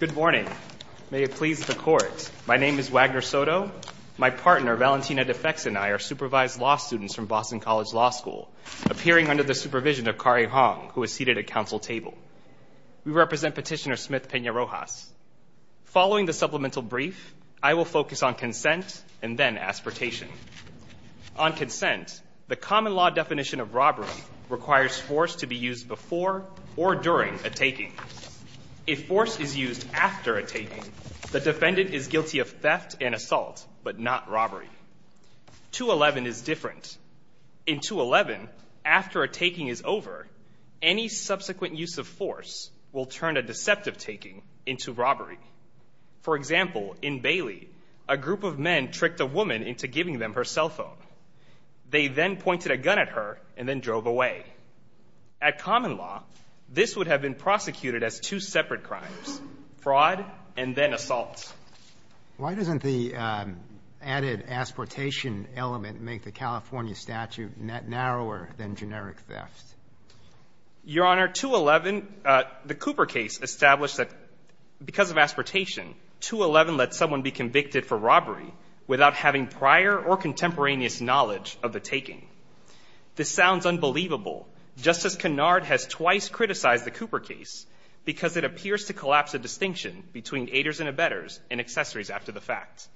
Good morning. May it please the court. My name is Wagner Soto. My partner, Valentina DeFects, and I are supervised law students from Boston College Law School, appearing under the supervision of Kari Hong, who is seated at council table. We represent petitioner Smith Pena-Rojas. Following the supplemental brief, I will focus on consent and then aspiratation. On consent, the common law definition of robbery requires force to be used before or during a taking. If force is used after a taking, the defendant is guilty of theft and assault, but not robbery. 2.11 is different. In 2.11, after a taking is over, any subsequent use of force will turn a deceptive taking into robbery. For example, in Bailey, a group of men tricked a woman into giving them her cell phone. They then pointed a gun at her and then drove away. At common law, this would have been prosecuted as two separate crimes, fraud and then assault. Roberts. Why doesn't the added aspiratation element make the California statute net narrower than generic theft? Your Honor, 2.11, the Cooper case established that because of aspiratation, 2.11 lets someone be convicted for robbery without having prior or contemporaneous knowledge of the taking. This sounds unbelievable. Justice Kennard has twice criticized the Cooper case because it appears to collapse a distinction between aiders and abettors and accessories after the fact.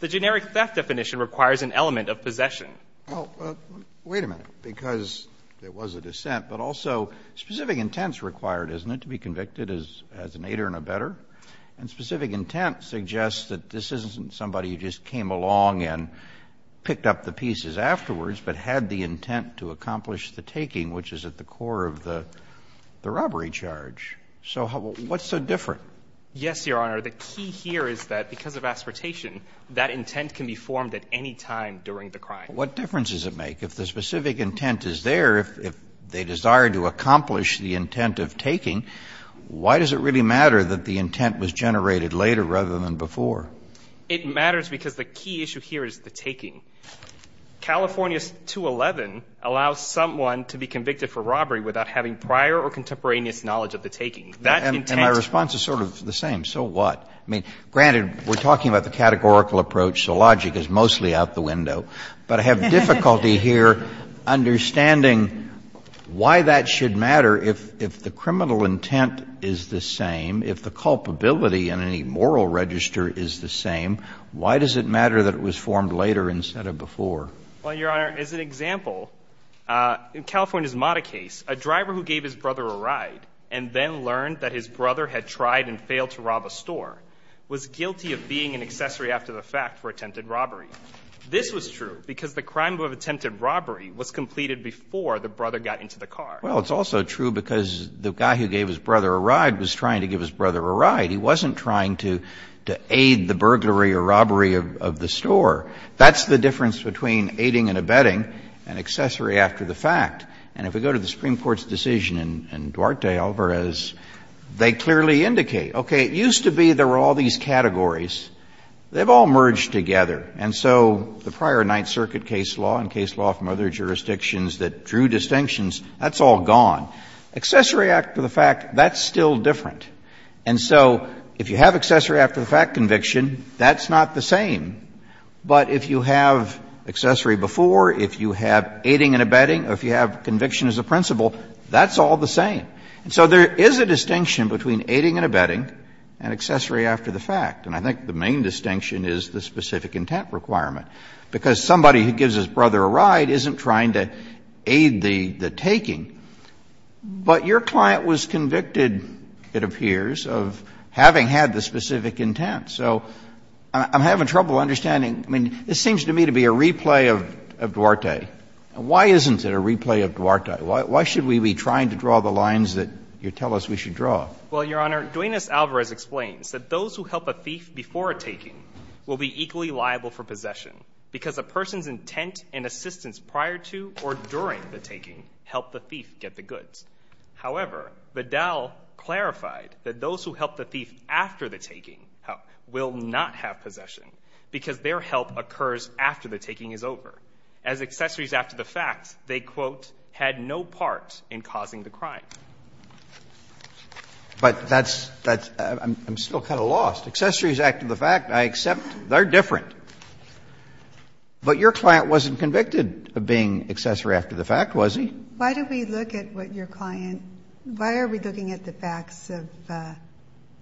The generic theft definition requires an element of possession. Well, wait a minute. Because there was a dissent, but also specific intents required, isn't it, to be convicted as an aider and abettor? And specific intent suggests that this isn't somebody who just came along and picked up the pieces afterwards, but had the intent to accomplish the taking, which is at the core of the robbery charge. So what's so different? Yes, Your Honor. The key here is that because of aspiratation, that intent can be formed at any time during the crime. What difference does it make? If the specific intent is there, if they desire to accomplish the intent of taking, why does it really matter that the intent was generated later rather than before? It matters because the key issue here is the taking. California's 2.11 allows someone to be convicted for robbery without having prior or contemporaneous knowledge of the taking. And my response is sort of the same. So what? I mean, granted, we're talking about the categorical approach, so logic is mostly out the window. But I have difficulty here understanding why that should matter. If the criminal intent is the same, if the culpability in any moral register is the same, why does it matter that it was formed later instead of before? Well, Your Honor, as an example, in California's Mata case, a driver who gave his brother a ride and then learned that his brother had tried and failed to rob a store was guilty of being an accessory after the fact for attempted robbery. This was true because the crime of attempted robbery was completed before the brother got into the car. Well, it's also true because the guy who gave his brother a ride was trying to give his brother a ride. He wasn't trying to aid the burglary or robbery of the store. That's the difference between aiding and abetting and accessory after the fact. And if we go to the Supreme Court's decision in Duarte Alvarez, they clearly indicate, okay, it used to be there were all these categories. They've all merged together. And so the prior Ninth Circuit case law and case law from other jurisdictions that drew distinctions, that's all gone. Accessory after the fact, that's still different. And so if you have accessory after the fact conviction, that's not the same. But if you have accessory before, if you have aiding and abetting, or if you have conviction as a principle, that's all the same. So there is a distinction between aiding and abetting and accessory after the fact. And I think the main distinction is the specific intent requirement. Because somebody who gives his brother a ride isn't trying to aid the taking. But your client was convicted, it appears, of having had the specific intent. So I'm having trouble understanding. I mean, this seems to me to be a replay of Duarte. Why isn't it a replay of Duarte? Why should we be trying to draw the lines that you tell us we should draw? Well, Your Honor, Duenis Alvarez explains that those who help a thief before a taking will be equally liable for possession because a person's intent and assistance prior to or during the taking helped the thief get the goods. However, Vidal clarified that those who help the thief after the taking will not have possession because their help occurs after the taking is over. As accessories after the fact, they, quote, had no part in causing the crime. But that's — I'm still kind of lost. Accessories after the fact, I accept, they're different. But your client wasn't convicted of being accessory after the fact, was he? Why do we look at what your client — why are we looking at the facts of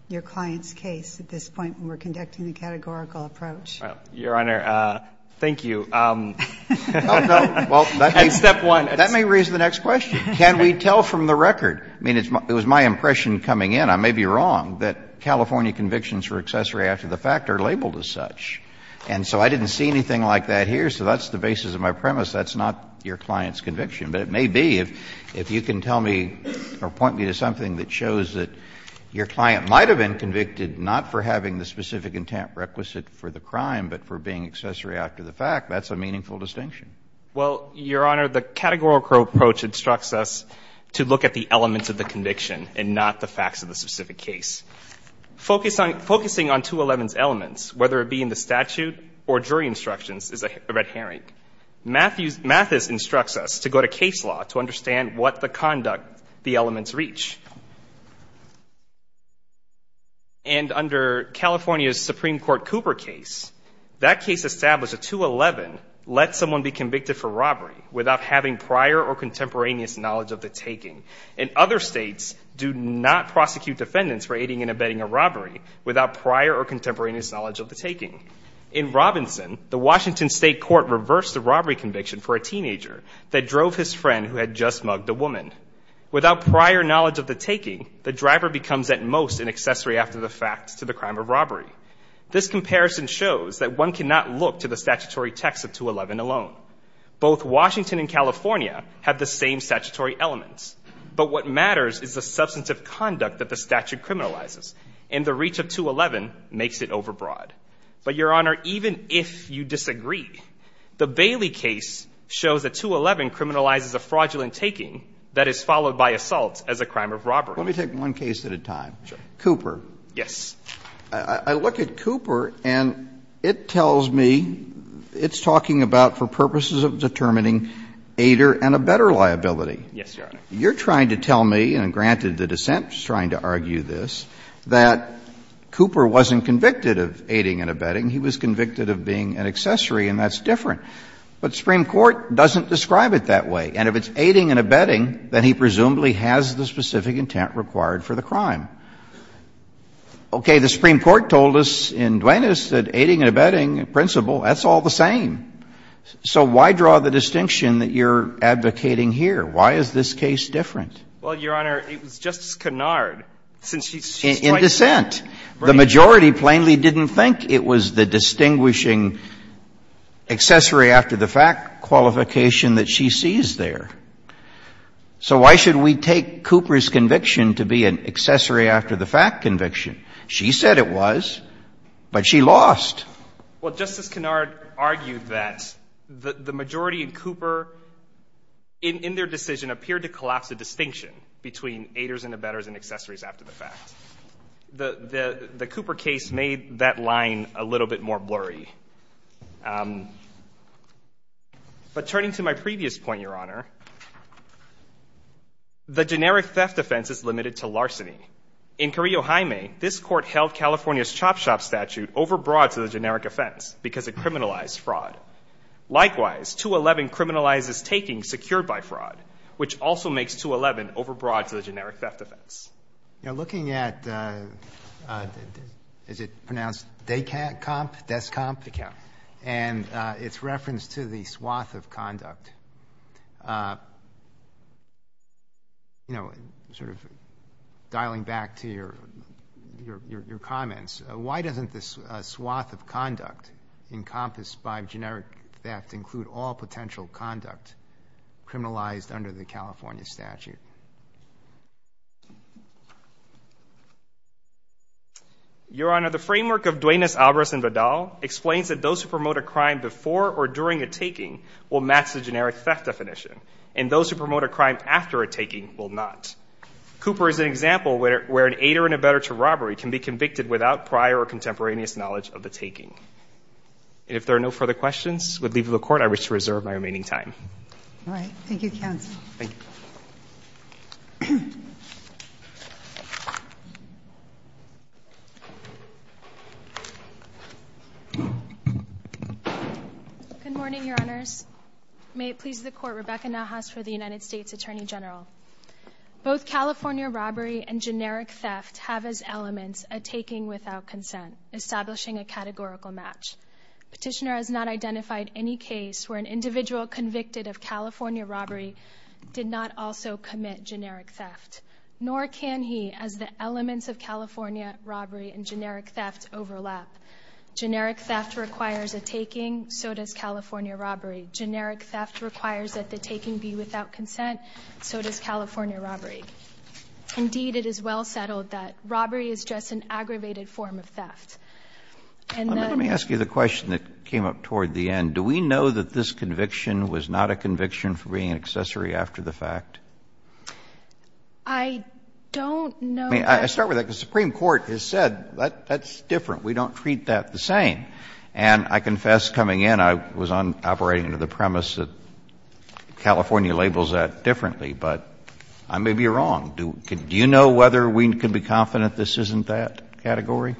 your client's case at this point when we're conducting the categorical approach? Your Honor, thank you. And step one. That may raise the next question. Can we tell from the record? I mean, it was my impression coming in, I may be wrong, that California convictions for accessory after the fact are labeled as such. And so I didn't see anything like that here. So that's the basis of my premise. That's not your client's conviction. But it may be, if you can tell me or point me to something that shows that your client might have been convicted not for having the specific intent requisite for the crime but for being accessory after the fact, that's a meaningful distinction. Well, Your Honor, the categorical approach instructs us to look at the elements of the conviction and not the facts of the specific case. Focusing on 211's elements, whether it be in the statute or jury instructions, is a red herring. Mathis instructs us to go to case law to understand what the conduct the elements reach. And under California's Supreme Court Cooper case, that case established that 211 let someone be convicted for robbery without having prior or contemporaneous knowledge of the taking. And other states do not prosecute defendants for aiding and abetting a robbery without prior or contemporaneous knowledge of the taking. In Robinson, the Washington State Court reversed the robbery conviction for a teenager that drove his friend who had just mugged a woman. Without prior knowledge of the taking, the driver becomes at most an accessory after the fact to the crime of robbery. This comparison shows that one cannot look to the statutory text of 211 alone. Both Washington and California have the same statutory elements. But what matters is the substance of conduct that the statute criminalizes. And the reach of 211 makes it overbroad. But, Your Honor, even if you disagree, the Bailey case shows that 211 criminalizes a fraudulent taking that is followed by assault as a crime of robbery. Let me take one case at a time. Sure. Cooper. Yes. I look at Cooper, and it tells me it's talking about for purposes of determining aider and abetter liability. Yes, Your Honor. You're trying to tell me, and granted the dissent is trying to argue this, that Cooper wasn't convicted of aiding and abetting. He was convicted of being an accessory, and that's different. But the Supreme Court doesn't describe it that way. And if it's aiding and abetting, then he presumably has the specific intent required for the crime. Okay. The Supreme Court told us in Duenas that aiding and abetting, in principle, that's all the same. So why draw the distinction that you're advocating here? Why is this case different? In dissent. The majority plainly didn't think it was the distinguishing accessory after the fact qualification that she sees there. So why should we take Cooper's conviction to be an accessory after the fact conviction? She said it was, but she lost. Well, Justice Kennard argued that the majority in Cooper, in their decision, appeared to collapse the distinction between aiders and abetters and accessories after the fact. The Cooper case made that line a little bit more blurry. But turning to my previous point, Your Honor, the generic theft offense is limited to larceny. In Carrillo-Jaime, this court held California's chop shop statute overbroad to the generic offense because it criminalized fraud. Likewise, 211 criminalizes taking secured by fraud, which also makes 211 overbroad to the generic theft offense. You know, looking at, is it pronounced Descomp? Descomp. And its reference to the swath of conduct, you know, sort of dialing back to your comments, why doesn't this swath of conduct encompassed by generic theft include all potential conduct criminalized under the California statute? Your Honor, the framework of Duenas, Alvarez, and Vidal explains that those who promote a crime before or during a taking will match the generic theft definition, and those who promote a crime after a taking will not. Cooper is an example where an aider and abetter to robbery can be convicted without prior or contemporaneous knowledge of the taking. And if there are no further questions, I would leave the Court. I wish to reserve my remaining time. All right. Thank you, counsel. Thank you. Good morning, Your Honors. May it please the Court, Rebecca Nahas for the United States Attorney General. Both California robbery and generic theft have as elements a taking without consent, establishing a categorical match. Petitioner has not identified any case where an individual convicted of California robbery did not also commit generic theft, nor can he as the elements of California robbery and generic theft overlap. Generic theft requires a taking, so does California robbery. Generic theft requires that the taking be without consent, so does California robbery. Indeed, it is well settled that robbery is just an aggravated form of theft. Let me ask you the question that came up toward the end. Do we know that this conviction was not a conviction for being an accessory after the fact? I don't know. I mean, I start with that, because the Supreme Court has said that's different. We don't treat that the same. And I confess coming in, I was operating under the premise that California labels that differently, but I may be wrong. Do you know whether we can be confident this isn't that category?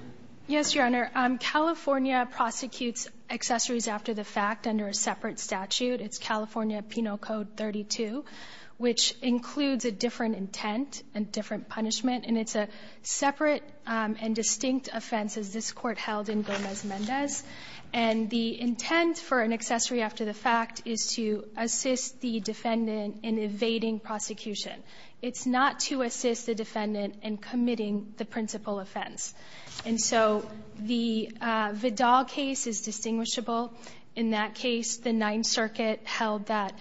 Yes, Your Honor. California prosecutes accessories after the fact under a separate statute. It's California Penal Code 32, which includes a different intent and different punishment, and it's a separate and distinct offense, as this Court held in Gomez-Mendez. And the intent for an accessory after the fact is to assist the defendant in evading prosecution. It's not to assist the defendant in committing the principal offense. And so the Vidal case is distinguishable. In that case, the Ninth Circuit held that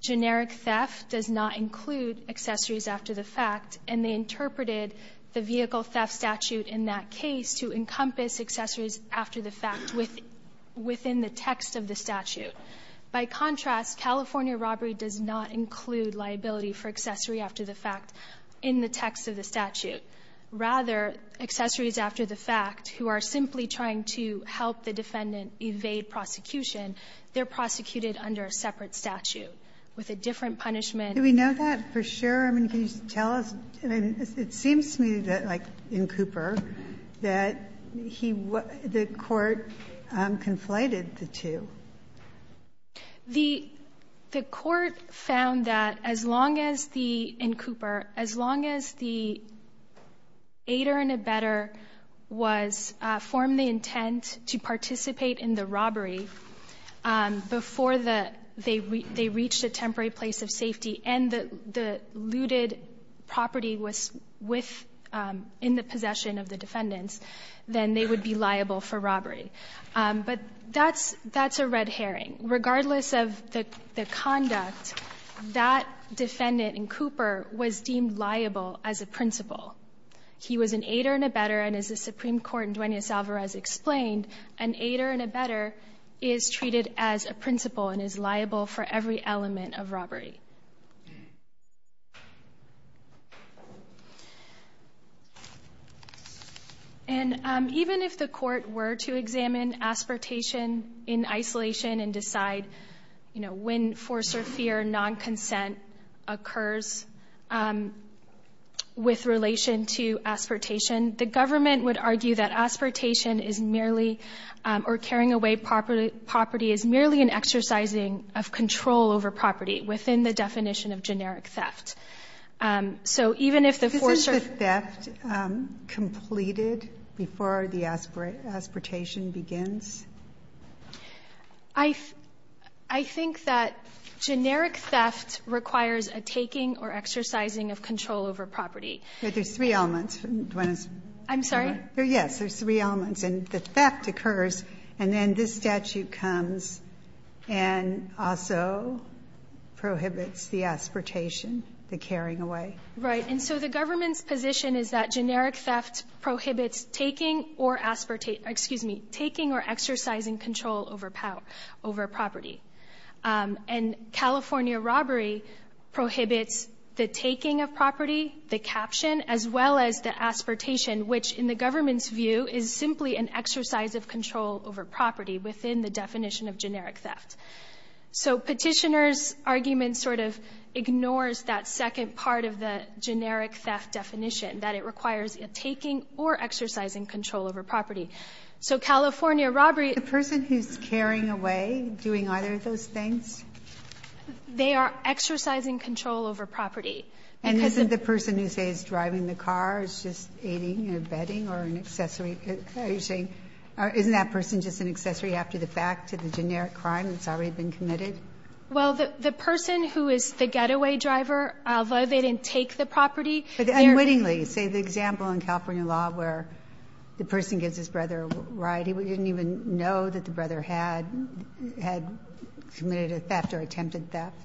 generic theft does not include accessories after the fact, and they interpreted the vehicle theft statute in that case to encompass accessories after the fact within the text of the statute. By contrast, California robbery does not include liability for accessory after the fact in the text of the statute. Rather, accessories after the fact, who are simply trying to help the defendant evade prosecution, they're prosecuted under a separate statute with a different punishment. Ginsburg. Do we know that for sure? I mean, can you tell us? I mean, it seems to me that, like in Cooper, that he was the Court conflated the two. The Court found that as long as the — in Cooper, as long as the aider and abetter was — formed the intent to participate in the robbery before the — they reached a temporary place of safety and the looted property was with — in the possession of the defendants, then they would be liable for robbery. But that's a red herring. Regardless of the conduct, that defendant in Cooper was deemed liable as a principal. He was an aider and abetter, and as the Supreme Court in Duenas-Alvarez explained, an aider and abetter is treated as a principal and is liable for every element of robbery. And even if the Court were to examine aspiratation in isolation and decide, you know, when force or fear, non-consent occurs with relation to aspiratation, the government would argue that aspiratation is merely — or carrying away property is merely an exercising of control over property within the jurisdiction of the definition of generic theft. So even if the force or — Is the theft completed before the aspiratation begins? I think that generic theft requires a taking or exercising of control over property. There's three elements. I'm sorry? Yes, there's three elements. And the theft occurs, and then this statute comes and also prohibits the aspiratation, the carrying away. Right. And so the government's position is that generic theft prohibits taking or — excuse me — taking or exercising control over property. And California robbery prohibits the taking of property, the caption, as well as the control over property within the definition of generic theft. So Petitioner's argument sort of ignores that second part of the generic theft definition, that it requires a taking or exercising control over property. So California robbery — The person who's carrying away, doing either of those things? They are exercising control over property. And isn't the person who, say, is driving the car, is just aiding or abetting or an accessory? Are you saying — isn't that person just an accessory after the fact to the generic crime that's already been committed? Well, the person who is the getaway driver, although they didn't take the property — But unwittingly. Say the example in California law where the person gives his brother a ride. He didn't even know that the brother had committed a theft or attempted theft.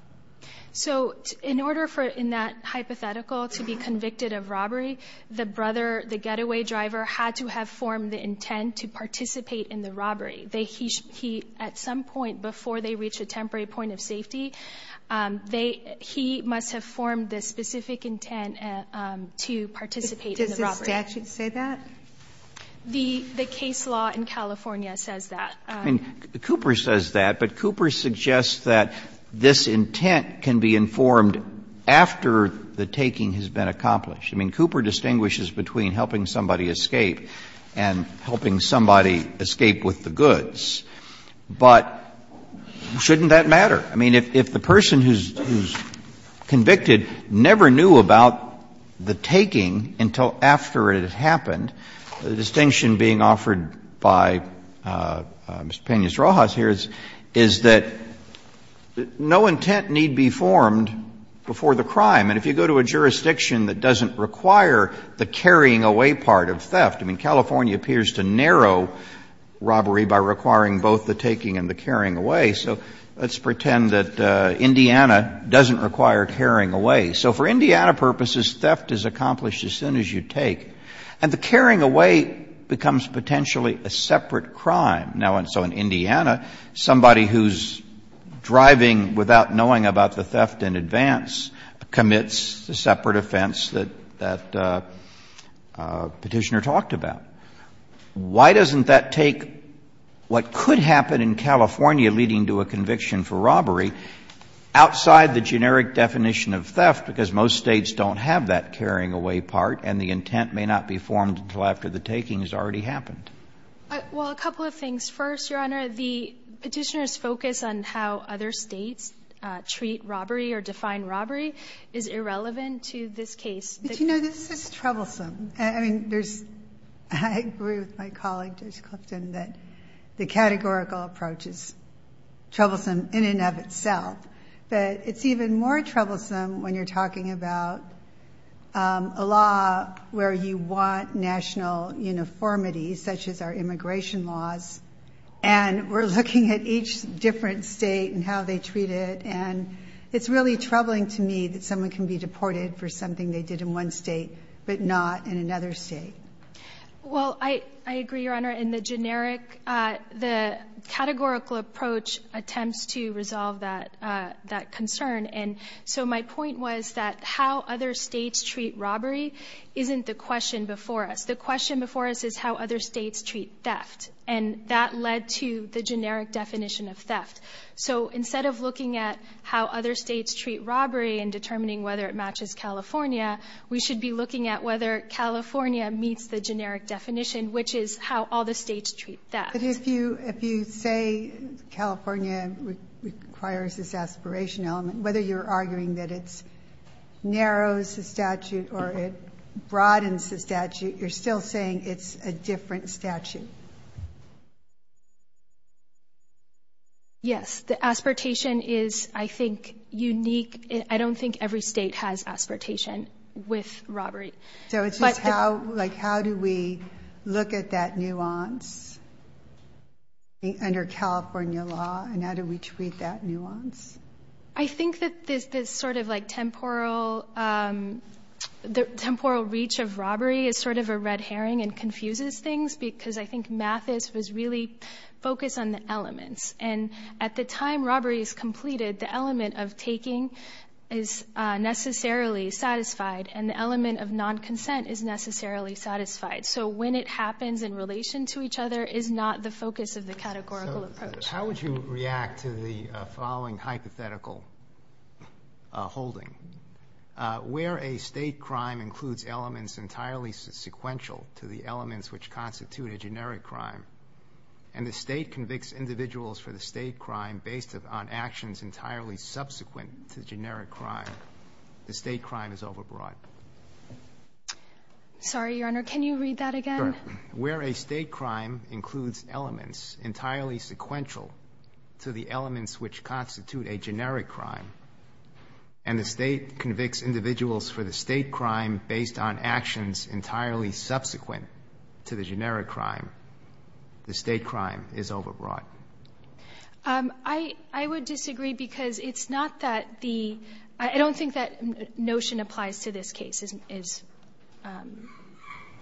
So in order for, in that hypothetical, to be convicted of robbery, the brother, the getaway driver, had to have formed the intent to participate in the robbery. He, at some point before they reach a temporary point of safety, they — he must have formed the specific intent to participate in the robbery. Does the statute say that? The case law in California says that. I mean, Cooper says that, but Cooper suggests that this intent can be informed after the taking has been accomplished. I mean, Cooper distinguishes between helping somebody escape and helping somebody escape with the goods. But shouldn't that matter? I mean, if the person who's convicted never knew about the taking until after it had been accomplished, then there's no need for the intent to be formed before the crime. And if you go to a jurisdiction that doesn't require the carrying away part of theft — I mean, California appears to narrow robbery by requiring both the taking and the carrying away, so let's pretend that Indiana doesn't require carrying away. So for Indiana purposes, theft is accomplished as soon as you take. And the carrying away becomes potentially a separate crime. Now, so in Indiana, somebody who's driving without knowing about the theft in advance commits a separate offense that Petitioner talked about. Why doesn't that take what could happen in California leading to a conviction for robbery outside the generic definition of theft, because most States don't have that carrying away part and the intent may not be formed until after the taking has already happened? Well, a couple of things. First, Your Honor, the Petitioner's focus on how other States treat robbery or define robbery is irrelevant to this case. But, you know, this is troublesome. I mean, there's — I agree with my colleague, Judge Clifton, that the categorical approach is troublesome in and of itself. But it's even more troublesome when you're talking about a law where you want national uniformity, such as our immigration laws, and we're looking at each different State and how they treat it. And it's really troubling to me that someone can be deported for something they did in one State but not in another State. Well, I agree, Your Honor. In the generic, the categorical approach attempts to resolve that concern. And so my point was that how other States treat robbery isn't the question before us. The question before us is how other States treat theft. And that led to the generic definition of theft. So instead of looking at how other States treat robbery and determining whether it matches California, we should be looking at whether California meets the generic definition, which is how all the States treat theft. But if you say California requires this aspiration element, whether you're arguing that it narrows the statute or it broadens the statute, you're still saying it's a different statute. Yes. The aspiration is, I think, unique. I don't think every State has aspiration with robbery. So it's just how do we look at that nuance under California law and how do we treat that nuance? I think that this sort of like temporal reach of robbery is sort of a red herring and confuses things because I think Mathis was really focused on the elements. And at the time robbery is completed, the element of taking is necessarily satisfied and the element of non-consent is necessarily satisfied. So when it happens in relation to each other is not the focus of the categorical approach. How would you react to the following hypothetical holding? Where a State crime includes elements entirely sequential to the elements which constitute a generic crime and the State convicts individuals for the State crime based on actions entirely subsequent to generic crime, the State crime is overbroad. Sorry, Your Honor. Can you read that again? Sure. Where a State crime includes elements entirely sequential to the elements which constitute a generic crime and the State convicts individuals for the State crime based on actions entirely subsequent to the generic crime, the State crime is overbroad. I would disagree because it's not that the – I don't think that notion applies to this case is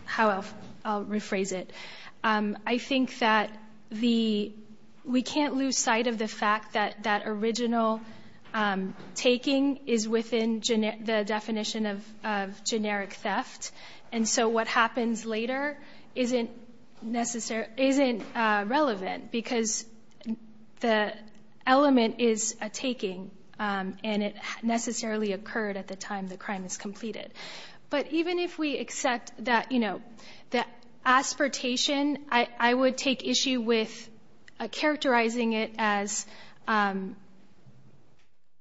how I'll rephrase it. I think that the – we can't lose sight of the fact that that original taking is within the definition of generic theft. And so what happens later isn't relevant because the element is a taking and it necessarily occurred at the time the crime is completed. But even if we accept that, you know, that aspiratation, I would take issue with characterizing it as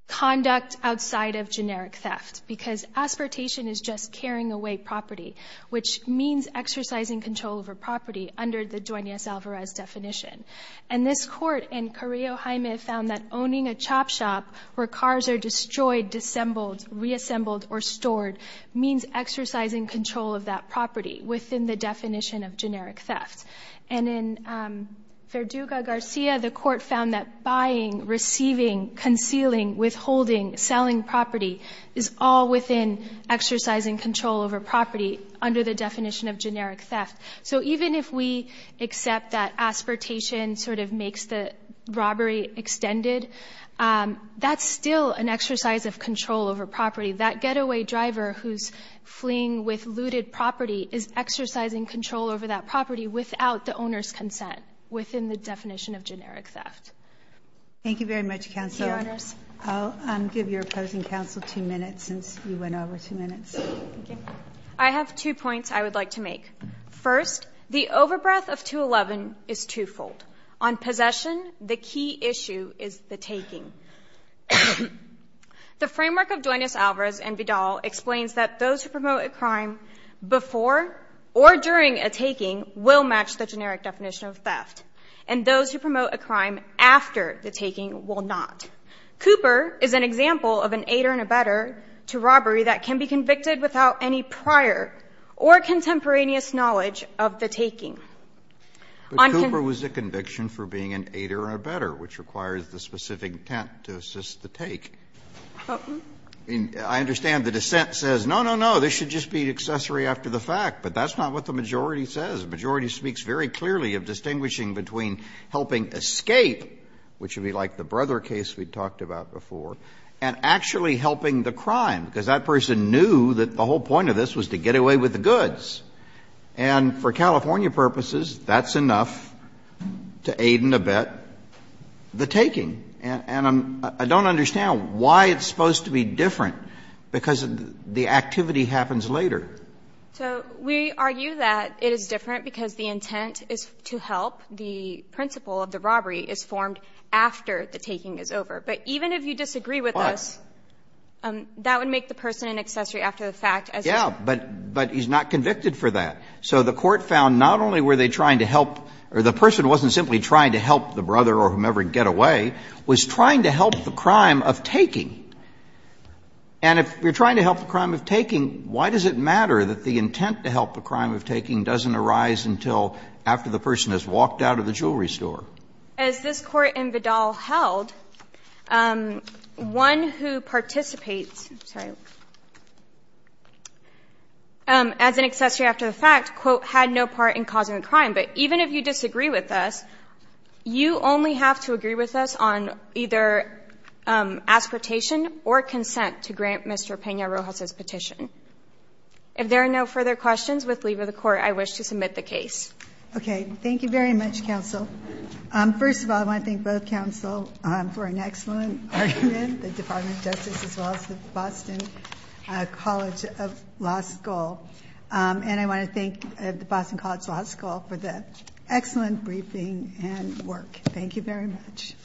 conduct outside of generic theft because aspiratation is just carrying away property, which means exercising control over property under the Duenas-Alvarez definition. And this court in Carrillo-Jaime found that owning a chop shop where cars are destroyed, disassembled, reassembled, or stored means exercising control of that property within the definition of generic theft. And in Verduga-Garcia, the court found that buying, receiving, concealing, withholding, selling property is all within exercising control over property under the definition of generic theft. So even if we accept that aspiratation sort of makes the robbery extended, that's still an exercise of control over property. That getaway driver who's fleeing with looted property is exercising control over that property without the owner's consent within the definition of generic theft. Thank you very much, Counselor. I'll give your opposing counsel two minutes since you went over two minutes. I have two points I would like to make. First, the overbreath of 211 is twofold. On possession, the key issue is the taking. The framework of Duenas-Alvarez and Vidal explains that those who promote a crime before or during a taking will match the generic definition of theft, and those who promote a crime after the taking will not. Cooper is an example of an aider and abetter to robbery that can be convicted without any prior or contemporaneous knowledge of the taking. On conviction of the taking. Kennedy, but Cooper was a conviction for being an aider and abetter, which requires the specific intent to assist the take. I understand the dissent says, no, no, no, this should just be accessory after the fact, but that's not what the majority says. The majority speaks very clearly of distinguishing between helping escape, which would be like the Brother case we talked about before, and actually helping the crime, because that person knew that the whole point of this was to get away with the goods. And for California purposes, that's enough to aid and abet the taking. And I'm don't understand why it's supposed to be different, because the activity happens later. So we argue that it is different because the intent is to help. The principle of the robbery is formed after the taking is over. But even if you disagree with us, that would make sense. It would make sense to take the person in accessory after the fact, as you said. Yeah, but he's not convicted for that. So the court found not only were they trying to help, or the person wasn't simply trying to help the brother or whomever get away, was trying to help the crime of taking. And if you're trying to help the crime of taking, why does it matter that the intent to help the crime of taking doesn't arise until after the person has walked out of the jewelry store? As this Court in Vidal held, one who participates, I'm sorry, as an accessory after the fact, quote, had no part in causing the crime. But even if you disagree with us, you only have to agree with us on either aspertation or consent to grant Mr. Peña-Rojas's petition. If there are no further questions, with leave of the Court, I wish to submit the case. Okay. Thank you very much, counsel. First of all, I want to thank both counsel for an excellent argument, the Department of Justice as well as the Boston College of Law School. And I want to thank the Boston College Law School for the excellent briefing and work. Thank you very much.